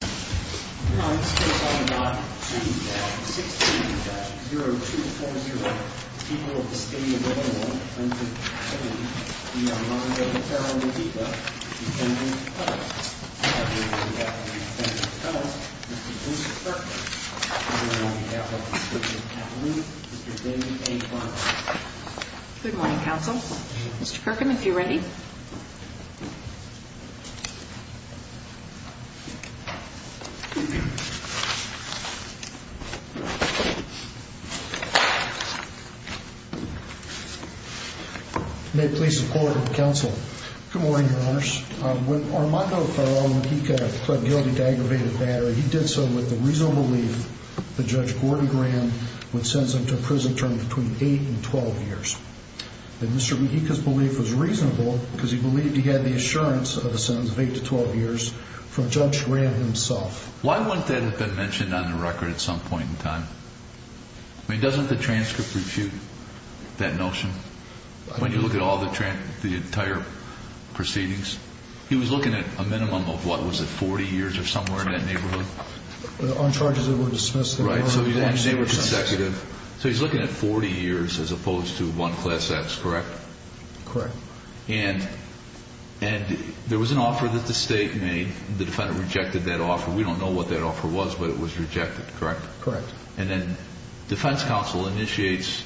Good morning. This case is on the note G-16-0240, the people of the state of Illinois under the authority of the Honorable Ferral-Mujica, defendant's husband. I would like to introduce the defendant's husband, Mr. Bruce Kirkham, on behalf of the District of Kappa Luma, Mr. David A. Clark. Good morning, counsel. Mr. Kirkham, if you're ready. May it please the court and counsel. Good morning, your honors. When Armando Ferral-Mujica pled guilty to aggravated battery, he did so with the reasonable belief that Judge Gordon Graham would send him to prison term between 8 and 12 years. And Mr. Mujica's belief was reasonable because he believed he had the assurance of a sentence of 8 to 12 years from Judge Graham himself. Why wouldn't that have been mentioned on the record at some point in time? I mean, doesn't the transcript refute that notion when you look at all the entire proceedings? He was looking at a minimum of, what, was it 40 years or somewhere in that neighborhood? On charges that were dismissed. So he's looking at 40 years as opposed to one class X, correct? Correct. And there was an offer that the State made. The defendant rejected that offer. We don't know what that offer was, but it was rejected, correct? Correct. And then defense counsel initiates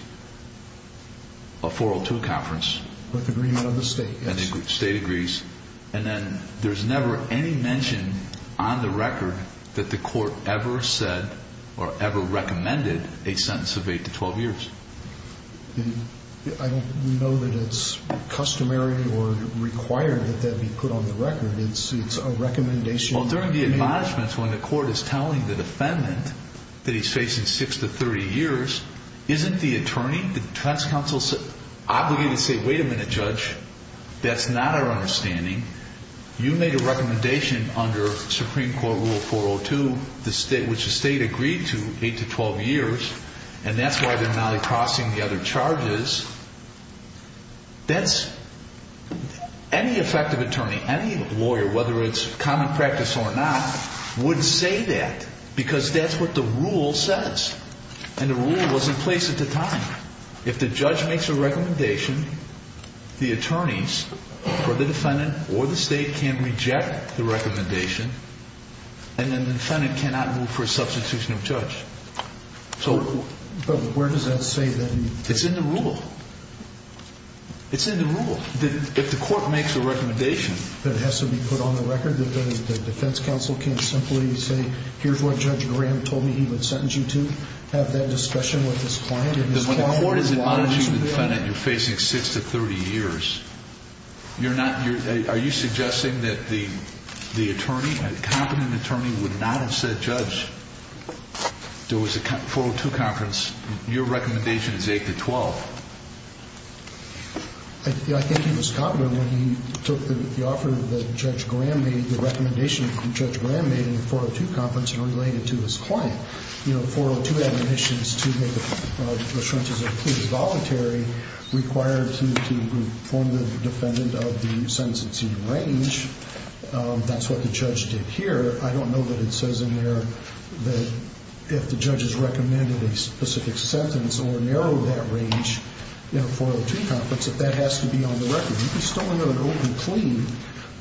a 402 conference. With agreement of the State, yes. And then there's never any mention on the record that the court ever said or ever recommended a sentence of 8 to 12 years. I don't know that it's customary or required that that be put on the record. It's a recommendation. Well, during the admonishments when the court is telling the defendant that he's facing 6 to 30 years, isn't the attorney, defense counsel, obligated to say, wait a minute, Judge, that's not our understanding. You made a recommendation under Supreme Court Rule 402, which the State agreed to, 8 to 12 years, and that's why they're not crossing the other charges. That's – any effective attorney, any lawyer, whether it's common practice or not, would say that because that's what the rule says, and the rule was in place at the time. If the judge makes a recommendation, the attorneys or the defendant or the State can reject the recommendation, and then the defendant cannot move for a substitution of judge. So – But where does that say that he – It's in the rule. It's in the rule. If the court makes a recommendation that has to be put on the record, the defense counsel can't simply say, here's what Judge Graham told me he would sentence you to? Have that discussion with his client? The court is admonishing the defendant you're facing 6 to 30 years. You're not – are you suggesting that the attorney, competent attorney, would not have said, Judge, there was a 402 conference, your recommendation is 8 to 12? I think he was confident when he took the offer that Judge Graham made, the recommendation that Judge Graham made in the 402 conference and related it to his client. You know, the 402 admonitions to make assurances of please voluntary required him to inform the defendant of the sentence exceeding range. That's what the judge did here. I don't know that it says in there that if the judge has recommended a specific sentence or narrowed that range in a 402 conference, if that has to be on the record. You can still go to an open plea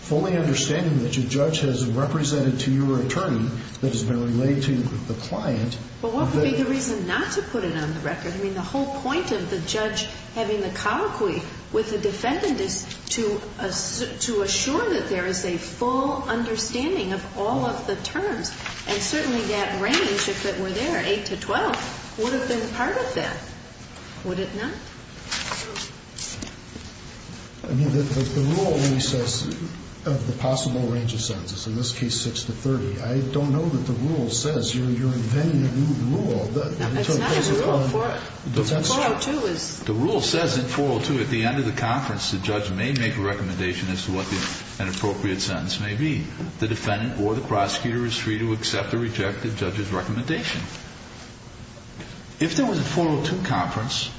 fully understanding that your judge has represented to your attorney that has been relayed to the client. But what would be the reason not to put it on the record? I mean, the whole point of the judge having the colloquy with the defendant is to assure that there is a full understanding of all of the terms, and certainly that range, if it were there, 8 to 12, would have been part of that. Would it not? I mean, the rule only says of the possible range of sentences, in this case 6 to 30. I don't know that the rule says you're inventing a new rule. That's not a rule for it. The rule says in 402 at the end of the conference the judge may make a recommendation as to what an appropriate sentence may be. The defendant or the prosecutor is free to accept or reject the judge's recommendation. If there was a 402 conference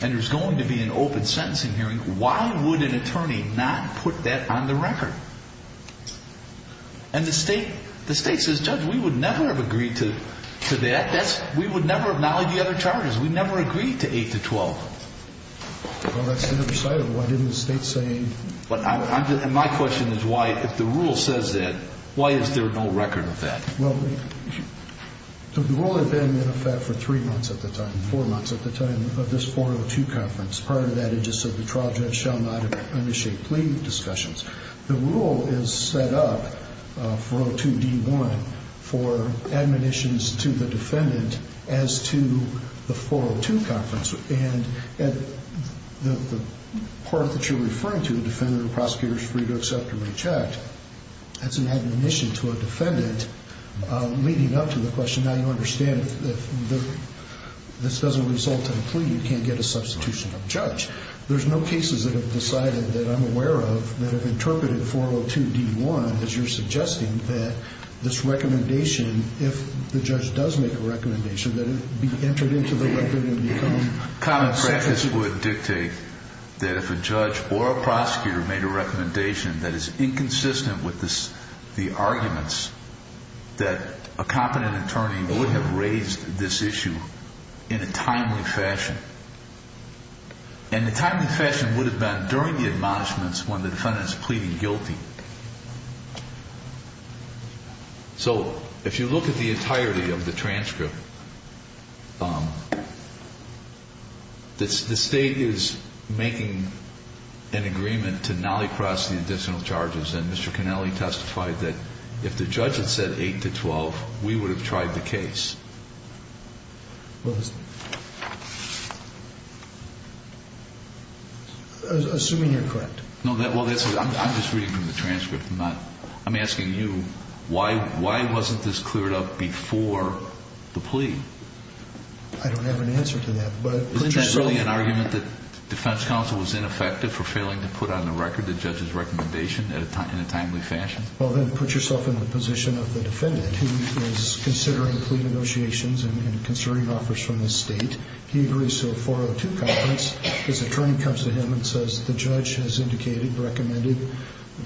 and there's going to be an open sentencing hearing, why would an attorney not put that on the record? And the state says, Judge, we would never have agreed to that. We would never have known the other charges. We never agreed to 8 to 12. Well, that's the other side of it. Why didn't the state say? And my question is why, if the rule says that, why is there no record of that? Well, the rule had been in effect for three months at the time, four months at the time of this 402 conference. Part of that, it just said the trial judge shall not initiate plea discussions. The rule is set up for 402d-1 for admonitions to the defendant as to the 402 conference. And the part that you're referring to, the defendant or prosecutor is free to accept or reject, that's an admonition to a defendant leading up to the question. Now, you understand that this doesn't result in a plea. You can't get a substitution of judge. There's no cases that have decided that I'm aware of that have interpreted 402d-1 as you're suggesting that this recommendation, if the judge does make a recommendation, that it be entered into the record of the accommodation. Common practice would dictate that if a judge or a prosecutor made a recommendation that is inconsistent with the arguments, that a competent attorney would have raised this issue in a timely fashion. And the timely fashion would have been during the admonishments when the defendant is pleading guilty. So if you look at the entirety of the transcript, the State is making an agreement to nolly cross the additional charges. And Mr. Connelly testified that if the judge had said 8 to 12, we would have tried the case. Assuming you're correct. I'm just reading from the transcript. I'm asking you, why wasn't this cleared up before the plea? I don't have an answer to that. Is it really an argument that defense counsel was ineffective for failing to put on the record the judge's recommendation in a timely fashion? Well, then put yourself in the position of the defendant who is considering plea negotiations and considering offers from the State. He agrees to a 402 conference. His attorney comes to him and says the judge has indicated, recommended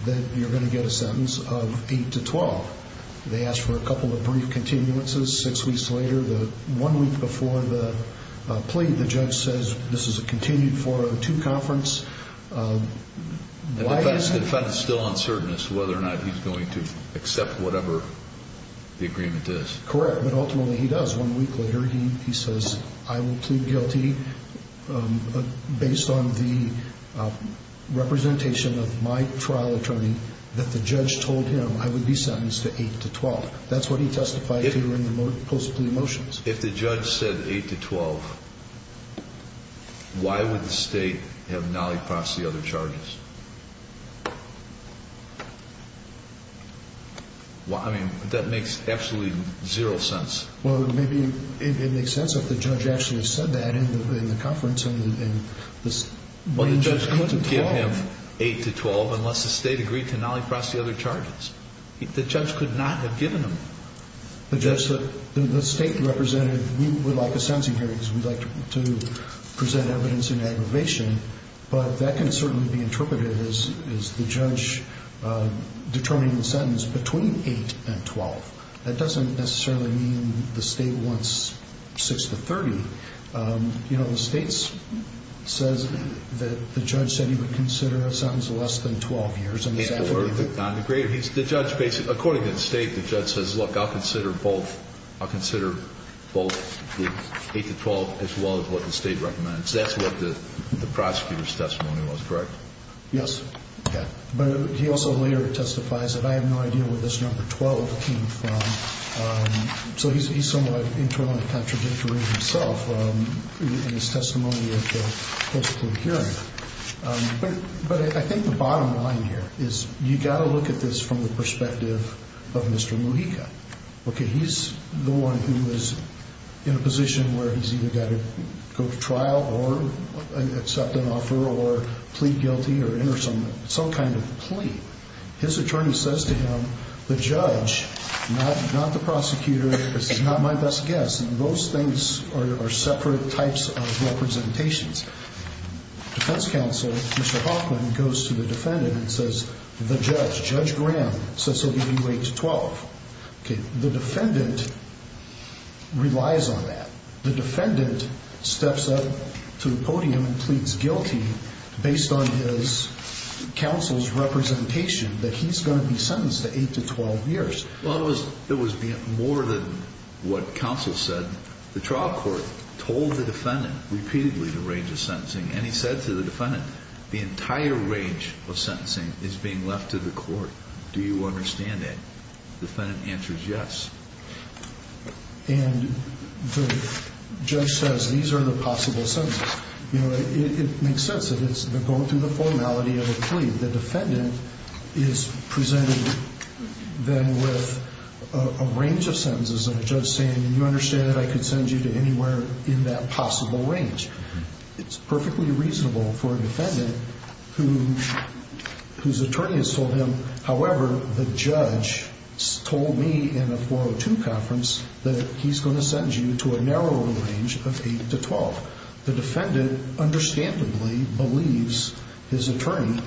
that you're going to get a sentence of 8 to 12. They ask for a couple of brief continuances. Six weeks later, one week before the plea, the judge says this is a continued 402 conference. And the defendant is still uncertain as to whether or not he's going to accept whatever the agreement is. Correct. But ultimately he does. One week later, he says, I will plead guilty based on the representation of my trial attorney that the judge told him I would be sentenced to 8 to 12. That's what he testified to in the post-plea motions. If the judge said 8 to 12, why would the State have nollied across the other charges? I mean, that makes absolutely zero sense. Well, maybe it makes sense if the judge actually said that in the conference. Well, the judge couldn't give him 8 to 12 unless the State agreed to nolly across the other charges. The judge could not have given him. The State representative would like a sentencing hearing because we'd like to present evidence in aggravation. But that can certainly be interpreted as the judge determining the sentence between 8 and 12. That doesn't necessarily mean the State wants 6 to 30. You know, the State says that the judge said he would consider a sentence less than 12 years. The judge, according to the State, the judge says, look, I'll consider both 8 to 12 as well as what the State recommends. That's what the prosecutor's testimony was, correct? Yes. But he also later testifies that I have no idea where this number 12 came from. So he's somewhat internally contradictory himself in his testimony at the post-plea hearing. But I think the bottom line here is you've got to look at this from the perspective of Mr. Mujica. Okay, he's the one who is in a position where he's either got to go to trial or accept an offer or plead guilty or enter some kind of plea. His attorney says to him, the judge, not the prosecutor, this is not my best guess. Those things are separate types of representations. Defense counsel, Mr. Hoffman, goes to the defendant and says, the judge, Judge Graham, says he'll give you 8 to 12. Okay, the defendant relies on that. The defendant steps up to the podium and pleads guilty based on his counsel's representation that he's going to be sentenced to 8 to 12 years. Well, it was more than what counsel said. The trial court told the defendant repeatedly the range of sentencing. And he said to the defendant, the entire range of sentencing is being left to the court. Do you understand that? The defendant answers yes. And the judge says, these are the possible sentences. You know, it makes sense that it's going through the formality of a plea. The defendant is presented then with a range of sentences and a judge saying, you understand that I could send you to anywhere in that possible range. It's perfectly reasonable for a defendant whose attorney has told him, however, the judge told me in a 402 conference that he's going to send you to a narrower range of 8 to 12. The defendant understandably believes his attorney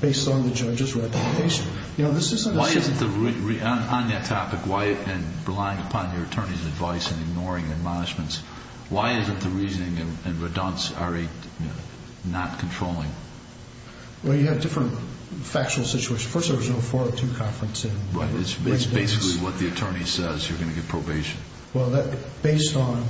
based on the judge's representation. You know, this isn't a... Why isn't the... on that topic, why... and relying upon your attorney's advice and ignoring admonishments, why isn't the reasoning and redundancy not controlling? Well, you had different factual situations. First, there was no 402 conference in residence. Right, it's basically what the attorney says, you're going to get probation. Well, based on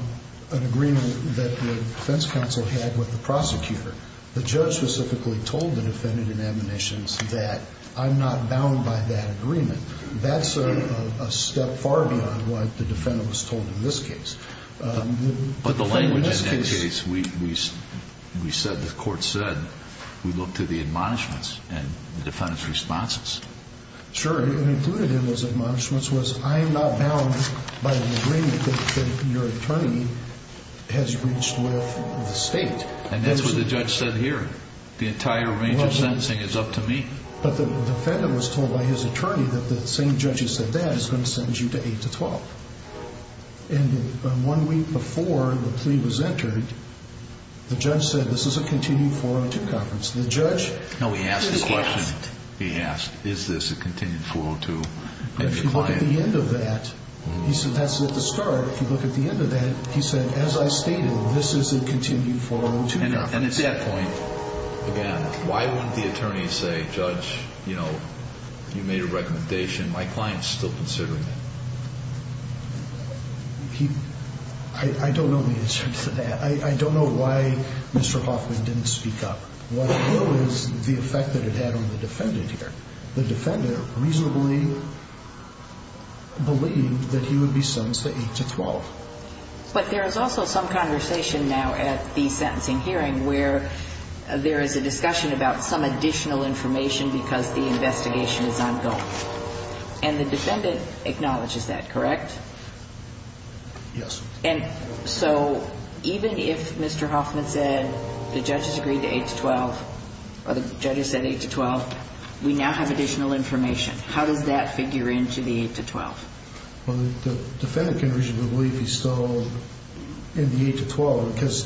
an agreement that the defense counsel had with the prosecutor, the judge specifically told the defendant in admonitions that I'm not bound by that agreement. That's a step far beyond what the defendant was told in this case. But the language in that case, we said, the court said, we look to the admonishments and the defendant's responses. Sure, and included in those admonishments was, I'm not bound by the agreement that your attorney has reached with the state. And that's what the judge said here. The entire range of sentencing is up to me. But the defendant was told by his attorney that the same judge who said that is going to send you to 8 to 12. And one week before the plea was entered, the judge said, this is a continuing 402 conference. The judge... He asked, is this a continued 402? If you look at the end of that, he said, that's at the start. If you look at the end of that, he said, as I stated, this is a continued 402 conference. And at that point, again, why wouldn't the attorney say, judge, you know, you made a recommendation. My client's still considering it. I don't know the answer to that. I don't know why Mr. Hoffman didn't speak up. What I know is the effect that it had on the defendant here. The defendant reasonably believed that he would be sentenced to 8 to 12. But there is also some conversation now at the sentencing hearing where there is a discussion about some additional information because the investigation is ongoing. And the defendant acknowledges that, correct? Yes. And so even if Mr. Hoffman said the judge has agreed to 8 to 12, or the judge has said 8 to 12, we now have additional information. How does that figure into the 8 to 12? Well, the defendant can reasonably believe he's still in the 8 to 12 because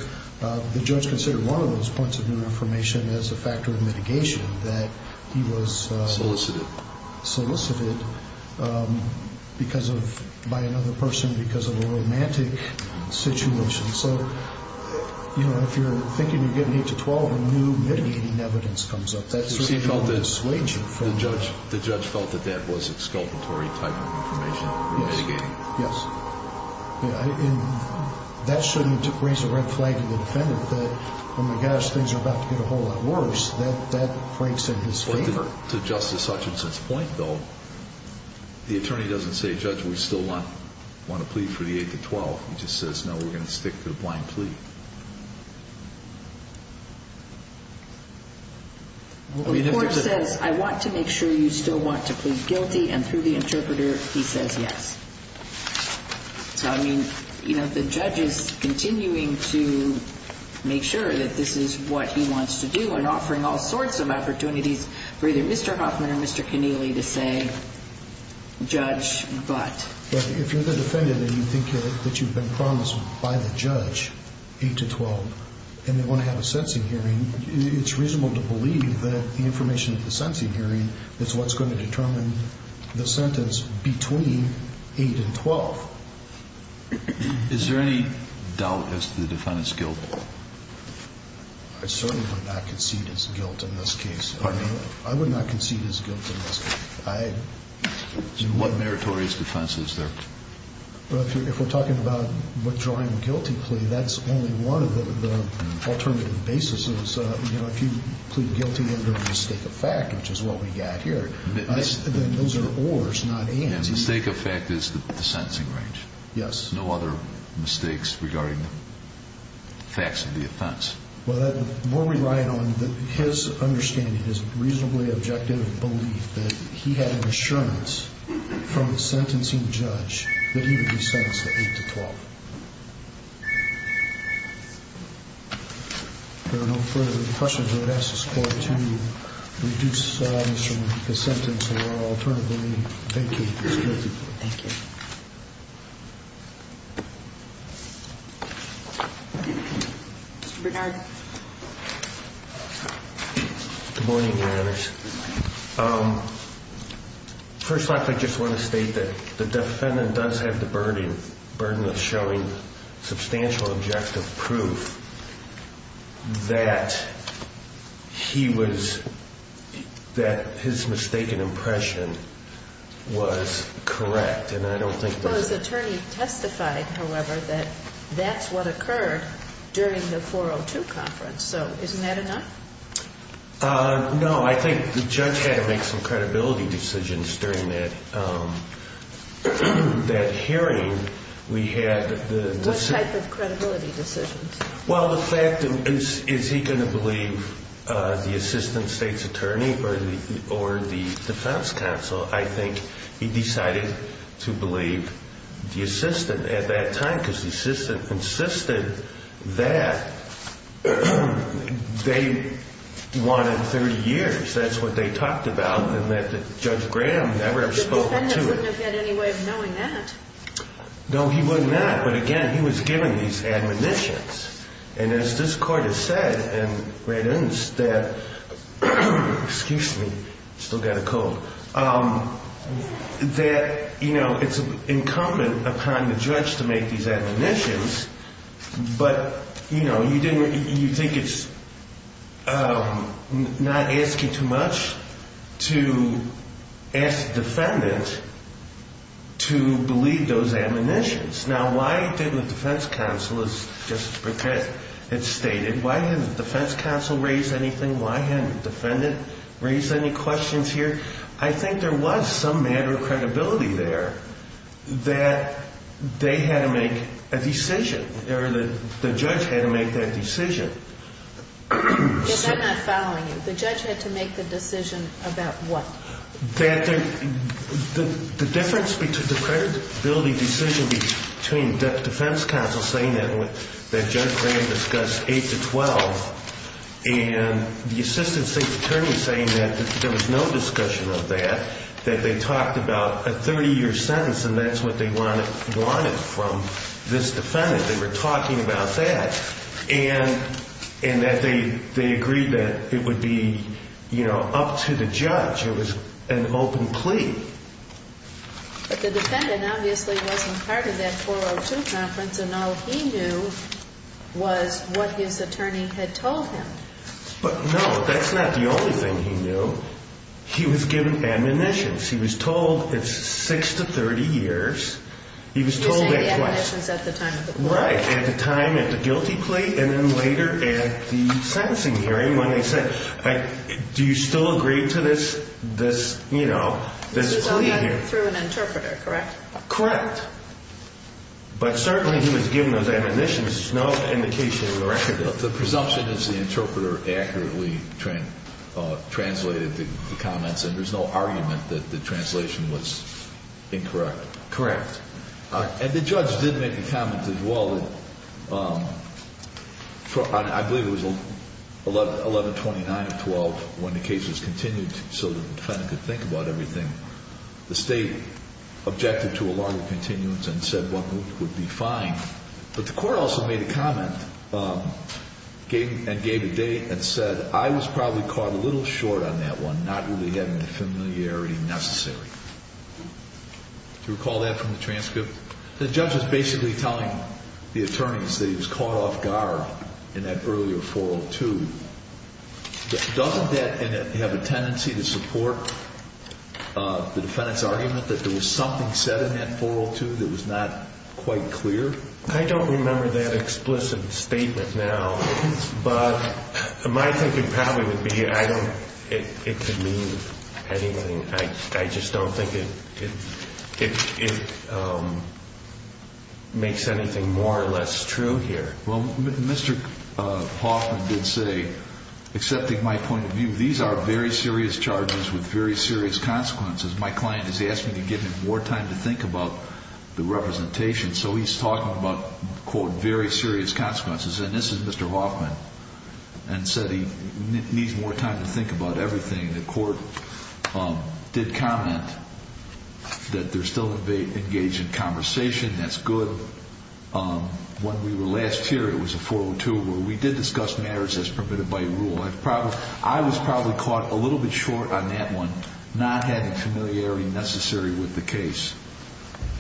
the judge considered one of those points of new information as a factor of mitigation, that he was... Solicited. Solicited because of, by another person, because of a romantic situation. So, you know, if you're thinking you're getting 8 to 12, a new mitigating evidence comes up. That's certainly more persuasive. The judge felt that that was exculpatory type of information. Yes. Yes. And that shouldn't raise a red flag to the defendant that, oh, my gosh, things are about to get a whole lot worse. That breaks in his favor. To Justice Hutchinson's point, though, the attorney doesn't say, judge, we still want to plead for the 8 to 12. He just says, no, we're going to stick to the blind plea. The court says, I want to make sure you still want to plead guilty. And through the interpreter, he says yes. So, I mean, you know, the judge is continuing to make sure that this is what he wants to do and offering all sorts of opportunities for either Mr. Hoffman or Mr. Keneally to say, judge, but. But if you're the defendant and you think that you've been promised by the judge 8 to 12 and they want to have a sentencing hearing, it's reasonable to believe that the information at the sentencing hearing is what's going to determine the sentence between 8 and 12. Is there any doubt as to the defendant's guilt? I certainly would not concede his guilt in this case. Pardon me? I would not concede his guilt in this case. What meritorious defense is there? Well, if we're talking about withdrawing a guilty plea, that's only one of the alternative basis. So, you know, if you plead guilty under a mistake of fact, which is what we got here, those are ors, not ands. A mistake of fact is the sentencing range. Yes. No other mistakes regarding the facts of the offense. Well, the more we rely on his understanding, his reasonably objective belief that he had an assurance from the sentencing judge that he would be sentenced to 8 to 12. If there are no further questions, I would ask this court to reduce the sentence or alternatively vacate this guilty plea. Thank you. Mr. Bernard. Good morning, Your Honors. First off, I just want to state that the defendant does have the burden of showing substantial objective proof that he was, that his mistaken impression was correct. Well, his attorney testified, however, that that's what occurred during the 402 conference. So isn't that enough? No, I think the judge had to make some credibility decisions during that hearing. What type of credibility decisions? Well, the fact is, is he going to believe the assistant state's attorney or the defense counsel? I think he decided to believe the assistant at that time because the assistant insisted that they wanted 30 years. That's what they talked about and that Judge Graham never spoke to it. The defendant wouldn't have had any way of knowing that. No, he would not. But again, he was given these admonitions. And as this court has said and read in that, excuse me, still got a cold, that, you know, it's incumbent upon the judge to make these admonitions. But, you know, you think it's not asking too much to ask the defendant to believe those admonitions. Now, why didn't the defense counsel, as Justice Brickett had stated, why didn't the defense counsel raise anything? Why hadn't the defendant raised any questions here? I think there was some matter of credibility there that they had to make a decision or the judge had to make that decision. Because I'm not following you. The judge had to make the decision about what? The difference between the credibility decision between the defense counsel saying that Judge Graham discussed 8 to 12 and the assistant state attorney saying that there was no discussion of that, that they talked about a 30-year sentence and that's what they wanted from this defendant. They were talking about that and that they agreed that it would be, you know, up to the judge. It was an open plea. But the defendant obviously wasn't part of that 402 conference and all he knew was what his attorney had told him. But, no, that's not the only thing he knew. He was given admonitions. He was told it's 6 to 30 years. He was told that twice. He was given the admonitions at the time of the plea. Right, at the time at the guilty plea and then later at the sentencing hearing when they said, Do you still agree to this, you know, this plea here? This is only through an interpreter, correct? Correct. But certainly he was given those admonitions. There's no indication of the record. The presumption is the interpreter accurately translated the comments and there's no argument that the translation was incorrect. Correct. And the judge did make a comment as well. I believe it was 1129 of 12 when the case was continued so the defendant could think about everything. The state objected to a longer continuance and said one would be fine. But the court also made a comment and gave a date and said, I was probably caught a little short on that one, not really having the familiarity necessary. Do you recall that from the transcript? The judge was basically telling the attorneys that he was caught off guard in that earlier 402. Doesn't that have a tendency to support the defendant's argument that there was something said in that 402 that was not quite clear? I don't remember that explicit statement now, but my thinking probably would be it could mean anything. I just don't think it makes anything more or less true here. Well, Mr. Hoffman did say, accepting my point of view, these are very serious charges with very serious consequences. My client has asked me to give him more time to think about the representation. So he's talking about, quote, very serious consequences. And this is Mr. Hoffman and said he needs more time to think about everything. The court did comment that they're still engaged in conversation. That's good. When we were last here, it was a 402 where we did discuss matters as permitted by rule. I was probably caught a little bit short on that one, not having familiarity necessary with the case.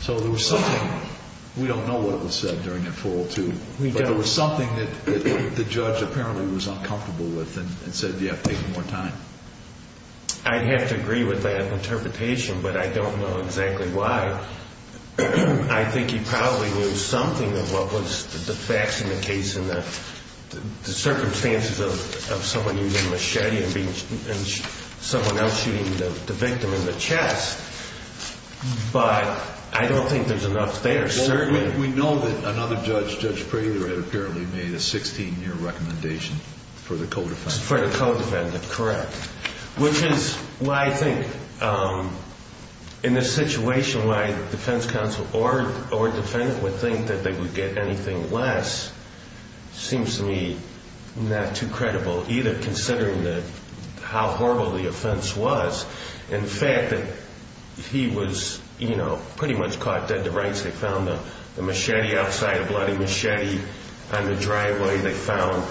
So there was something. We don't know what was said during that 402. But there was something that the judge apparently was uncomfortable with and said, yeah, take more time. I'd have to agree with that interpretation, but I don't know exactly why. I think he probably knew something of what was the facts in the case and the circumstances of someone using a machete and someone else shooting the victim in the chest. But I don't think there's enough there. We know that another judge, Judge Prater, had apparently made a 16-year recommendation for the co-defendant. For the co-defendant, correct, which is why I think in this situation, why the defense counsel or defendant would think that they would get anything less seems to me not too credible, either considering how horrible the offense was and the fact that he was pretty much caught dead to rights. They found the machete outside, a bloody machete on the driveway. They found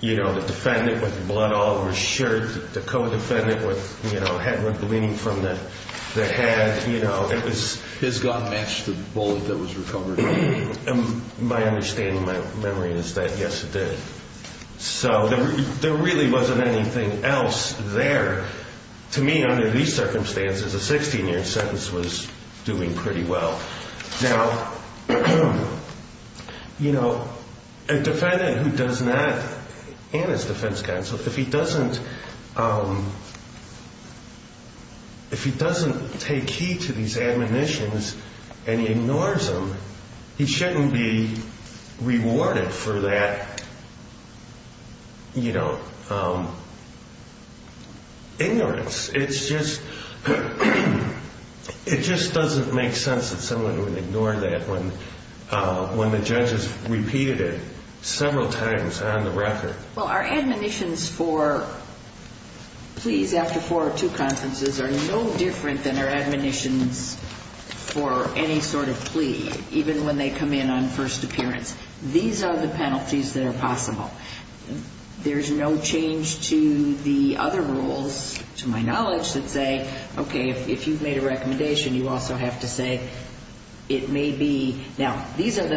the defendant with blood all over his shirt, the co-defendant with head wound gleaming from the head. His gun matched the bullet that was recovered. My understanding, my memory is that, yes, it did. So there really wasn't anything else there. To me, under these circumstances, a 16-year sentence was doing pretty well. Now, you know, a defendant who does not, and his defense counsel, if he doesn't take heed to these admonitions and he ignores them, he shouldn't be rewarded for that, you know, ignorance. It just doesn't make sense that someone would ignore that when the judge has repeated it several times on the record. Well, our admonitions for pleas after four or two conferences are no different than our admonitions for any sort of plea, even when they come in on first appearance. These are the penalties that are possible. There's no change to the other rules, to my knowledge, that say, okay, if you've made a recommendation, you also have to say it may be. Now, this is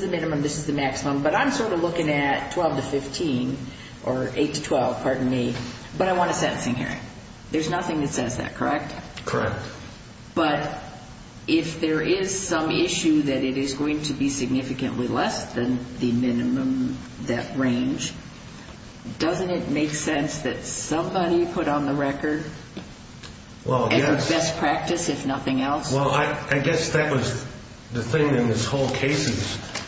the minimum. This is the maximum. But I'm sort of looking at 12 to 15 or 8 to 12, pardon me, but I want a sentencing hearing. There's nothing that says that, correct? Correct. But if there is some issue that it is going to be significantly less than the minimum, that range, doesn't it make sense that somebody put on the record best practice, if nothing else? Well, I guess that was the thing in this whole case is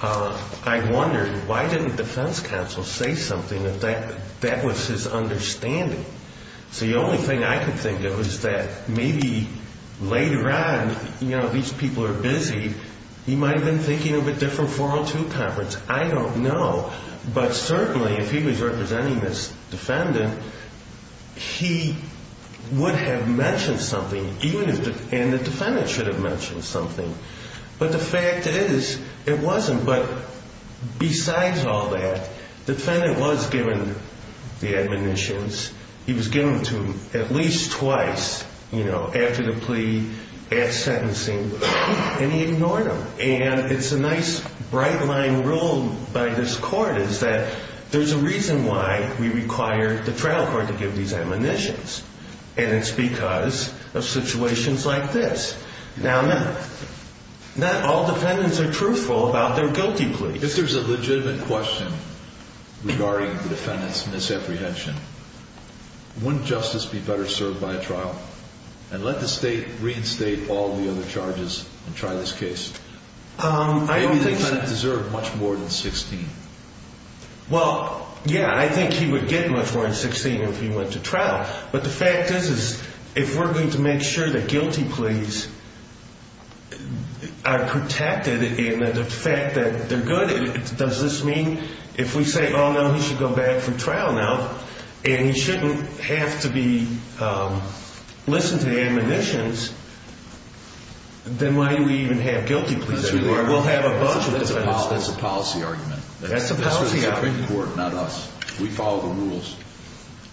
I wondered, why didn't the defense counsel say something if that was his understanding? So the only thing I could think of is that maybe later on, you know, these people are busy, he might have been thinking of a different 402 conference. I don't know. But certainly, if he was representing this defendant, he would have mentioned something, and the defendant should have mentioned something. But the fact is, it wasn't. But besides all that, the defendant was given the admonitions. He was given them to him at least twice, you know, after the plea, after sentencing, and he ignored them. And it's a nice bright-line rule by this court is that there's a reason why we require the trial court to give these admonitions, and it's because of situations like this. Now, not all defendants are truthful about their guilty pleas. If there's a legitimate question regarding the defendant's misapprehension, wouldn't justice be better served by a trial? And let the state reinstate all the other charges and try this case. I don't think so. Maybe the defendant deserved much more than 16. Well, yeah, I think he would get much more than 16 if he went to trial. But the fact is, is if we're going to make sure that guilty pleas are protected and that the fact that they're good, does this mean if we say, oh, no, he should go back for trial now and he shouldn't have to listen to the admonitions, then why do we even have guilty pleas? We'll have a bunch of them. That's a policy argument. That's a policy argument. We follow the rules.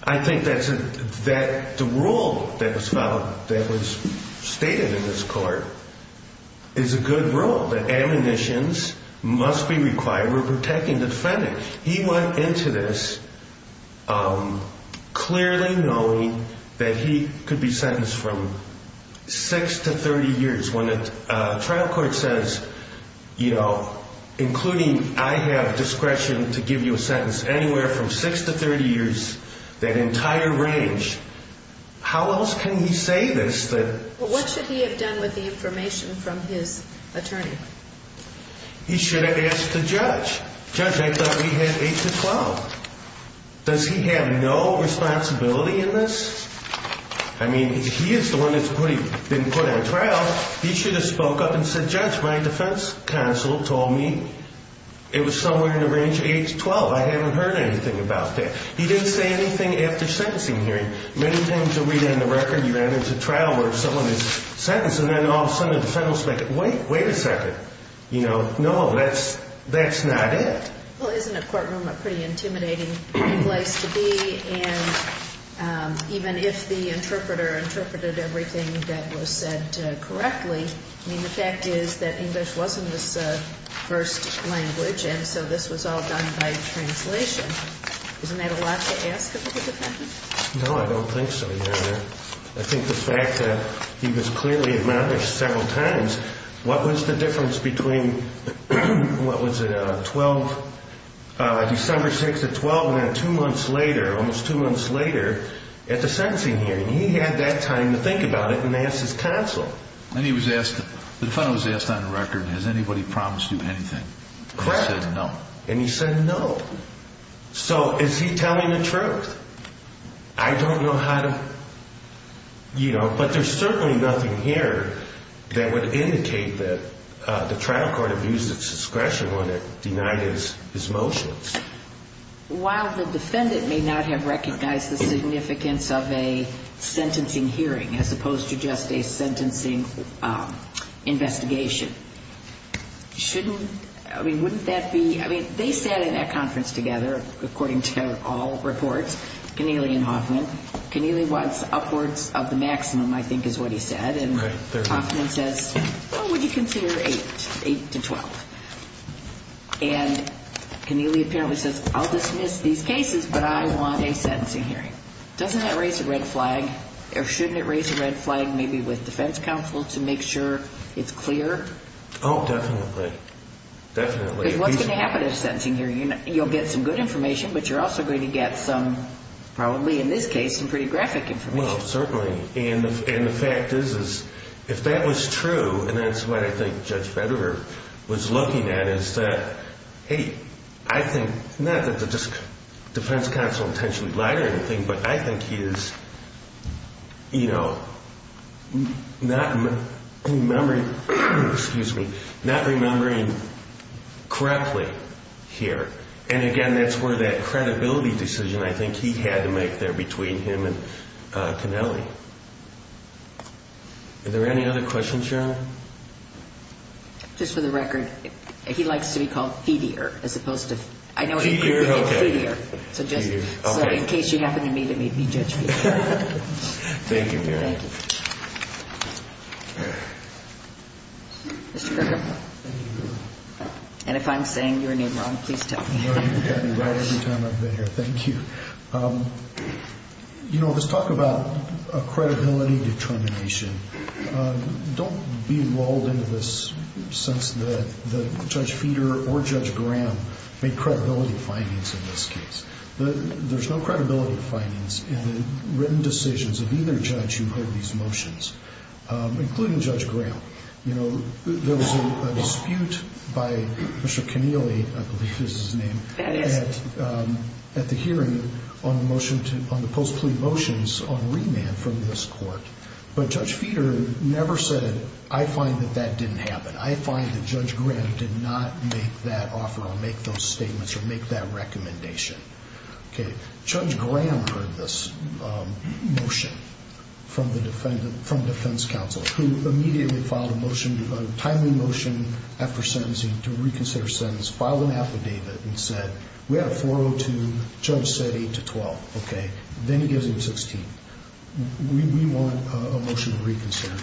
I think that the rule that was stated in this court is a good rule, that admonitions must be required when protecting the defendant. He went into this clearly knowing that he could be sentenced from 6 to 30 years. When a trial court says, you know, including I have discretion to give you a sentence anywhere from 6 to 30 years, that entire range, how else can he say this? What should he have done with the information from his attorney? He should have asked the judge. Judge, I thought he had 8 to 12. Does he have no responsibility in this? I mean, he is the one that's been put on trial. He should have spoke up and said, Judge, my defense counsel told me it was somewhere in the range of 8 to 12. I haven't heard anything about that. He didn't say anything after sentencing hearing. Many times you read it in the record, you run into trial where someone is sentenced, and then all of a sudden the defendant is like, wait, wait a second. You know, no, that's not it. Well, isn't a courtroom a pretty intimidating place to be? And even if the interpreter interpreted everything that was said correctly, I mean, the fact is that English wasn't his first language, and so this was all done by translation. Isn't that a lot to ask of the defendant? No, I don't think so, Your Honor. I think the fact that he was clearly admonished several times, what was the difference between what was it, December 6th at 12, and then two months later, almost two months later at the sentencing hearing? He had that time to think about it and ask his counsel. And he was asked, the defendant was asked on the record, has anybody promised you anything? Correct. And he said no. And he said no. So is he telling the truth? I don't know how to, you know, but there's certainly nothing here that would indicate that the trial court abused its discretion when it denied his motions. While the defendant may not have recognized the significance of a sentencing hearing as opposed to just a sentencing investigation, shouldn't, I mean, wouldn't that be, I mean, they sat in that conference together, according to all reports, Keneally and Hoffman. Keneally wants upwards of the maximum, I think is what he said, and Hoffman says, well, would you consider 8, 8 to 12? And Keneally apparently says, I'll dismiss these cases, but I want a sentencing hearing. Doesn't that raise a red flag? Or shouldn't it raise a red flag maybe with defense counsel to make sure it's clear? Oh, definitely. Definitely. Because what's going to happen in a sentencing hearing? You'll get some good information, but you're also going to get some, probably in this case, some pretty graphic information. Well, certainly. And the fact is, is if that was true, and that's what I think Judge Federer was looking at, is that, hey, I think, not that the defense counsel intentionally lied or anything, but I think he is, you know, not remembering, excuse me, not remembering correctly here. And, again, that's where that credibility decision, I think, he had to make there between him and Keneally. Are there any other questions, Your Honor? Just for the record, he likes to be called Federer as opposed to, I know what you mean when you say Federer. Federer, okay. So just in case you happen to meet him, he'd be Judge Federer. Thank you, Your Honor. Thank you. Mr. Kirkham. Thank you, Your Honor. And if I'm saying your name wrong, please tell me. No, you've got me right every time I've been here. Thank you. You know, let's talk about credibility determination. Don't be lulled into this sense that Judge Federer or Judge Graham made credibility findings in this case. There's no credibility findings in the written decisions of either judge who heard these motions, including Judge Graham. You know, there was a dispute by Mr. Keneally, I believe is his name, at the hearing on the motion to the post-plea motions on remand from this court, but Judge Federer never said, I find that that didn't happen. I find that Judge Graham did not make that offer or make those statements or make that recommendation. Okay. Judge Graham heard this motion from the defense counsel who immediately filed a motion, a timely motion after sentencing to reconsider a sentence, filed an affidavit, and said, we have a 402. Judge said 8 to 12. Okay. Then he gives him 16. We want a motion to reconsider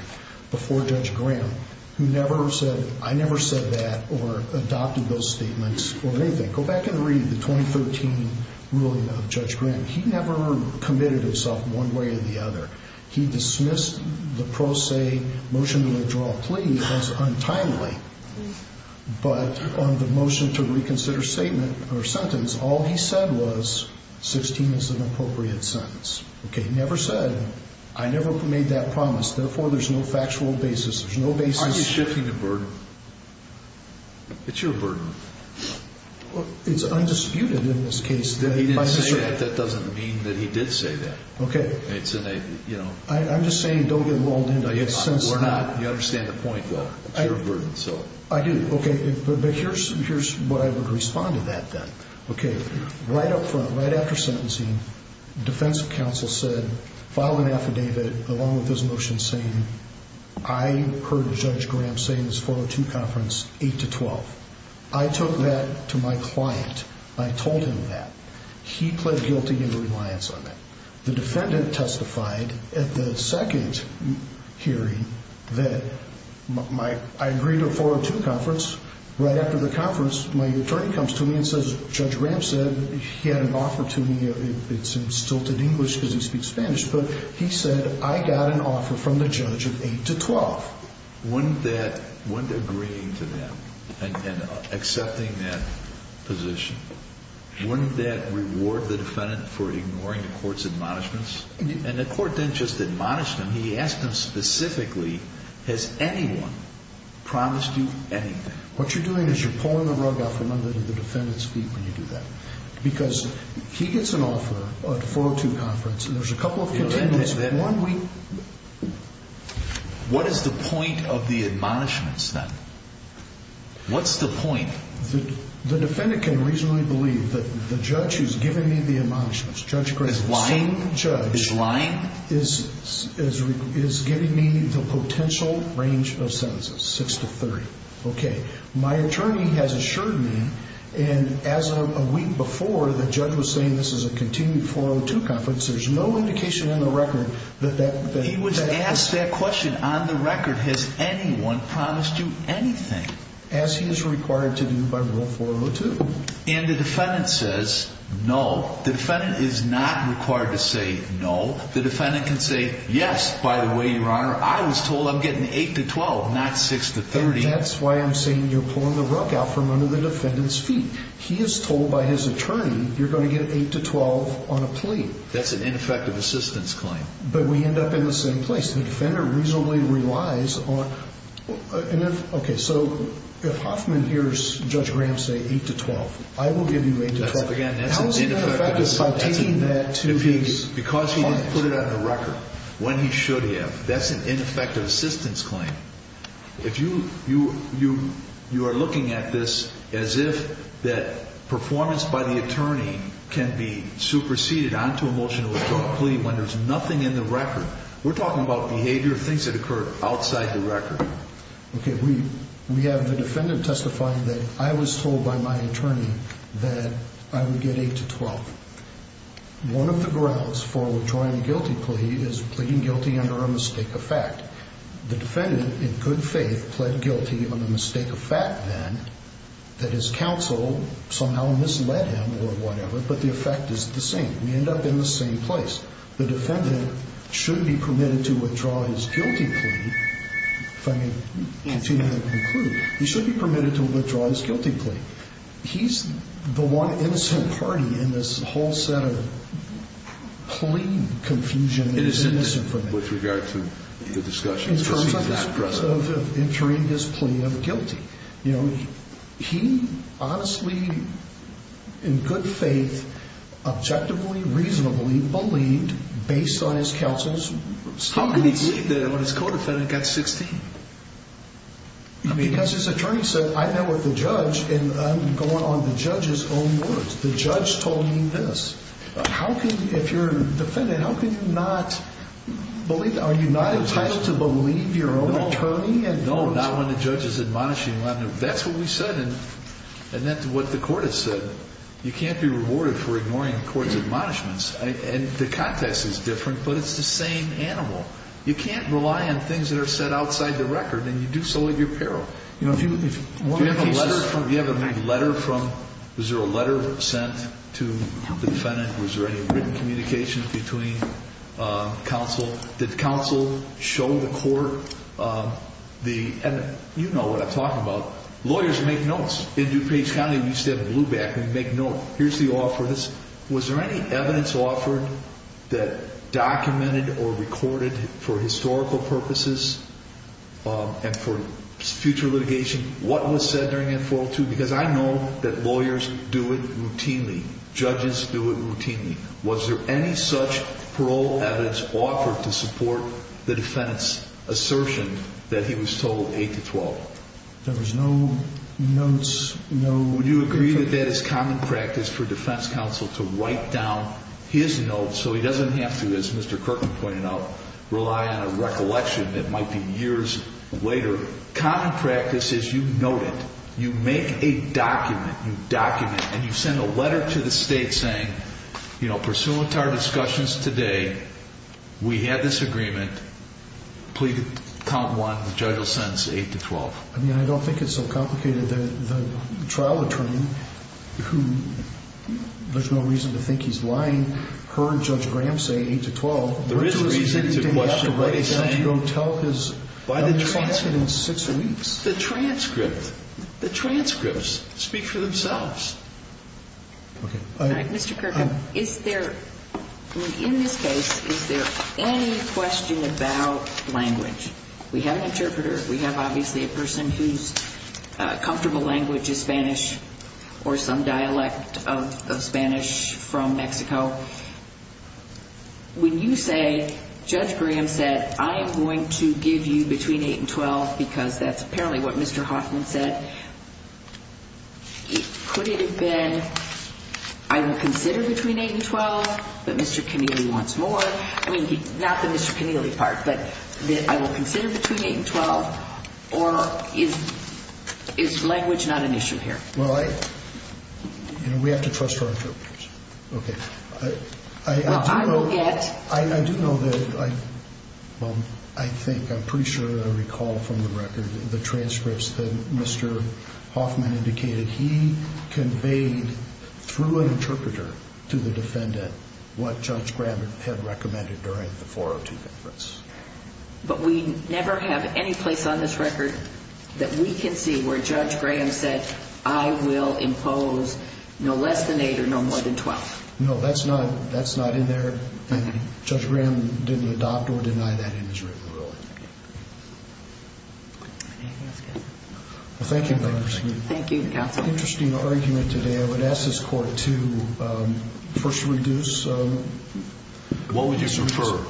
before Judge Graham, who never said, I never said that or adopted those statements or anything. Go back and read the 2013 ruling of Judge Graham. He never committed himself one way or the other. He dismissed the pro se motion to withdraw a plea as untimely. But on the motion to reconsider statement or sentence, all he said was 16 is an appropriate sentence. Okay. He never said, I never made that promise. Therefore, there's no factual basis. There's no basis. Aren't you shifting the burden? It's your burden. It's undisputed in this case. He didn't say that. That doesn't mean that he did say that. Okay. It's in a, you know. I'm just saying don't get involved in it. We're not. You understand the point though. It's your burden. I do. Okay. But here's what I would respond to that then. Okay. Right up front, right after sentencing, defense counsel said file an affidavit along with this motion saying I heard Judge Graham say in his 402 conference 8 to 12. I took that to my client. I told him that. He pled guilty in reliance on that. The defendant testified at the second hearing that I agreed to a 402 conference. Right after the conference, my attorney comes to me and says Judge Graham said he had an offer to me. It's in stilted English because he speaks Spanish. But he said I got an offer from the judge of 8 to 12. Wouldn't that, wouldn't agreeing to that and accepting that position, wouldn't that reward the defendant for ignoring the court's admonishments? And the court didn't just admonish them. When he asked them specifically, has anyone promised you anything? What you're doing is you're pulling the rug out from under the defendant's feet when you do that. Because he gets an offer at a 402 conference and there's a couple of continuance. What is the point of the admonishments then? What's the point? The defendant can reasonably believe that the judge who's giving me the admonishments, Judge Graham, the same judge, is giving me the potential range of sentences, 6 to 30. Okay. My attorney has assured me, and as of a week before, the judge was saying this is a continued 402 conference. There's no indication on the record that that has happened. He was asked that question on the record. Has anyone promised you anything? As he is required to do by rule 402. And the defendant says no. The defendant is not required to say no. The defendant can say, yes, by the way, Your Honor, I was told I'm getting 8 to 12, not 6 to 30. That's why I'm saying you're pulling the rug out from under the defendant's feet. He is told by his attorney you're going to get 8 to 12 on a plea. That's an ineffective assistance claim. But we end up in the same place. The defender reasonably relies on. Okay. So if Hoffman hears Judge Graham say 8 to 12, I will give you 8 to 12. Again, that's an ineffective assistance claim. How is that affected by taking that to his office? Because he didn't put it on the record when he should have. That's an ineffective assistance claim. If you are looking at this as if that performance by the attorney can be superseded onto a motion to withdraw a plea when there's nothing in the record. We're talking about behavior, things that occur outside the record. Okay. We have the defendant testifying that I was told by my attorney that I would get 8 to 12. One of the grounds for withdrawing a guilty plea is pleading guilty under a mistake of fact. The defendant, in good faith, pled guilty under a mistake of fact then that his counsel somehow misled him or whatever. But the effect is the same. We end up in the same place. The defendant should be permitted to withdraw his guilty plea, if I may continue to conclude. He should be permitted to withdraw his guilty plea. He's the one innocent party in this whole set of plea confusion that is innocent for him. With regard to the discussion preceding this precedent. In terms of entering his plea of guilty. He honestly, in good faith, objectively, reasonably believed based on his counsel's statements. How can he believe that when his co-defendant got 16? Because his attorney said, I met with the judge and I'm going on the judge's own words. The judge told me this. If you're a defendant, how can you not believe that? Are you not entitled to believe your own attorney? No, not when the judge is admonishing. That's what we said. And that's what the court has said. You can't be rewarded for ignoring the court's admonishments. And the context is different, but it's the same animal. You can't rely on things that are set outside the record. And you do so at your peril. Do you have a letter from, was there a letter sent to the defendant? Was there any written communication between counsel? Did counsel show the court the evidence? You know what I'm talking about. Lawyers make notes. In DuPage County, we used to have a blue back. We'd make notes. Here's the offer. Was there any evidence offered that documented or recorded for historical purposes and for future litigation? What was said during that 402? Because I know that lawyers do it routinely. Judges do it routinely. Was there any such parole evidence offered to support the defendant's assertion that he was told 8 to 12? There was no notes. Would you agree that that is common practice for defense counsel to write down his notes so he doesn't have to, as Mr. Kirkland pointed out, rely on a recollection that might be years later? Common practice is you note it. You make a document. You document, and you send a letter to the state saying, you know, pursuant to our discussions today, we have this agreement. Please count one. The judge will sentence 8 to 12. I mean, I don't think it's so complicated. The trial attorney, who there's no reason to think he's lying, heard Judge Graham say 8 to 12. There is a reason to question what he's saying. He didn't have to write it down to go tell his trial in six weeks. The transcript. The transcripts. They can speak for themselves. Mr. Kirkland, is there, in this case, is there any question about language? We have an interpreter. We have obviously a person whose comfortable language is Spanish or some dialect of Spanish from Mexico. When you say, Judge Graham said, I am going to give you between 8 and 12 because that's apparently what Mr. Hoffman said, could it have been, I will consider between 8 and 12, but Mr. Keneally wants more? I mean, not the Mr. Keneally part, but I will consider between 8 and 12, or is language not an issue here? Well, I, you know, we have to trust our interpreters. Okay. Well, I will get. I do know that, well, I think, I'm pretty sure that I recall from the record the transcripts that Mr. Hoffman indicated. He conveyed through an interpreter to the defendant what Judge Graham had recommended during the 402 conference. But we never have any place on this record that we can see where Judge Graham said, I will impose no less than 8 or no more than 12. No, that's not, that's not in there, and Judge Graham didn't adopt or deny that in his written ruling. Okay. Well, thank you very much. Thank you, Counsel. Interesting argument today. I would ask this Court to first reduce. What would you prefer?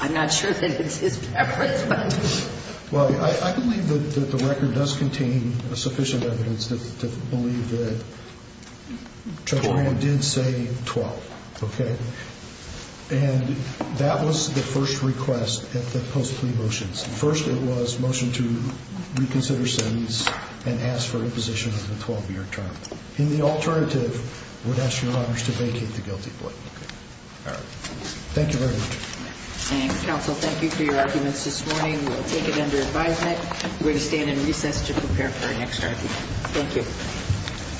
I'm not sure that it's his preference, but. Well, I believe that the record does contain sufficient evidence to believe that Judge Graham did say 12. Okay. And that was the first request at the post-plea motions. First, it was motion to reconsider sentence and ask for imposition of the 12-year term. And the alternative would ask Your Honors to vacate the guilty plea. All right. Thank you very much. And, Counsel, thank you for your arguments this morning. We'll take it under advisement. We're going to stand in recess to prepare for our next argument. Thank you.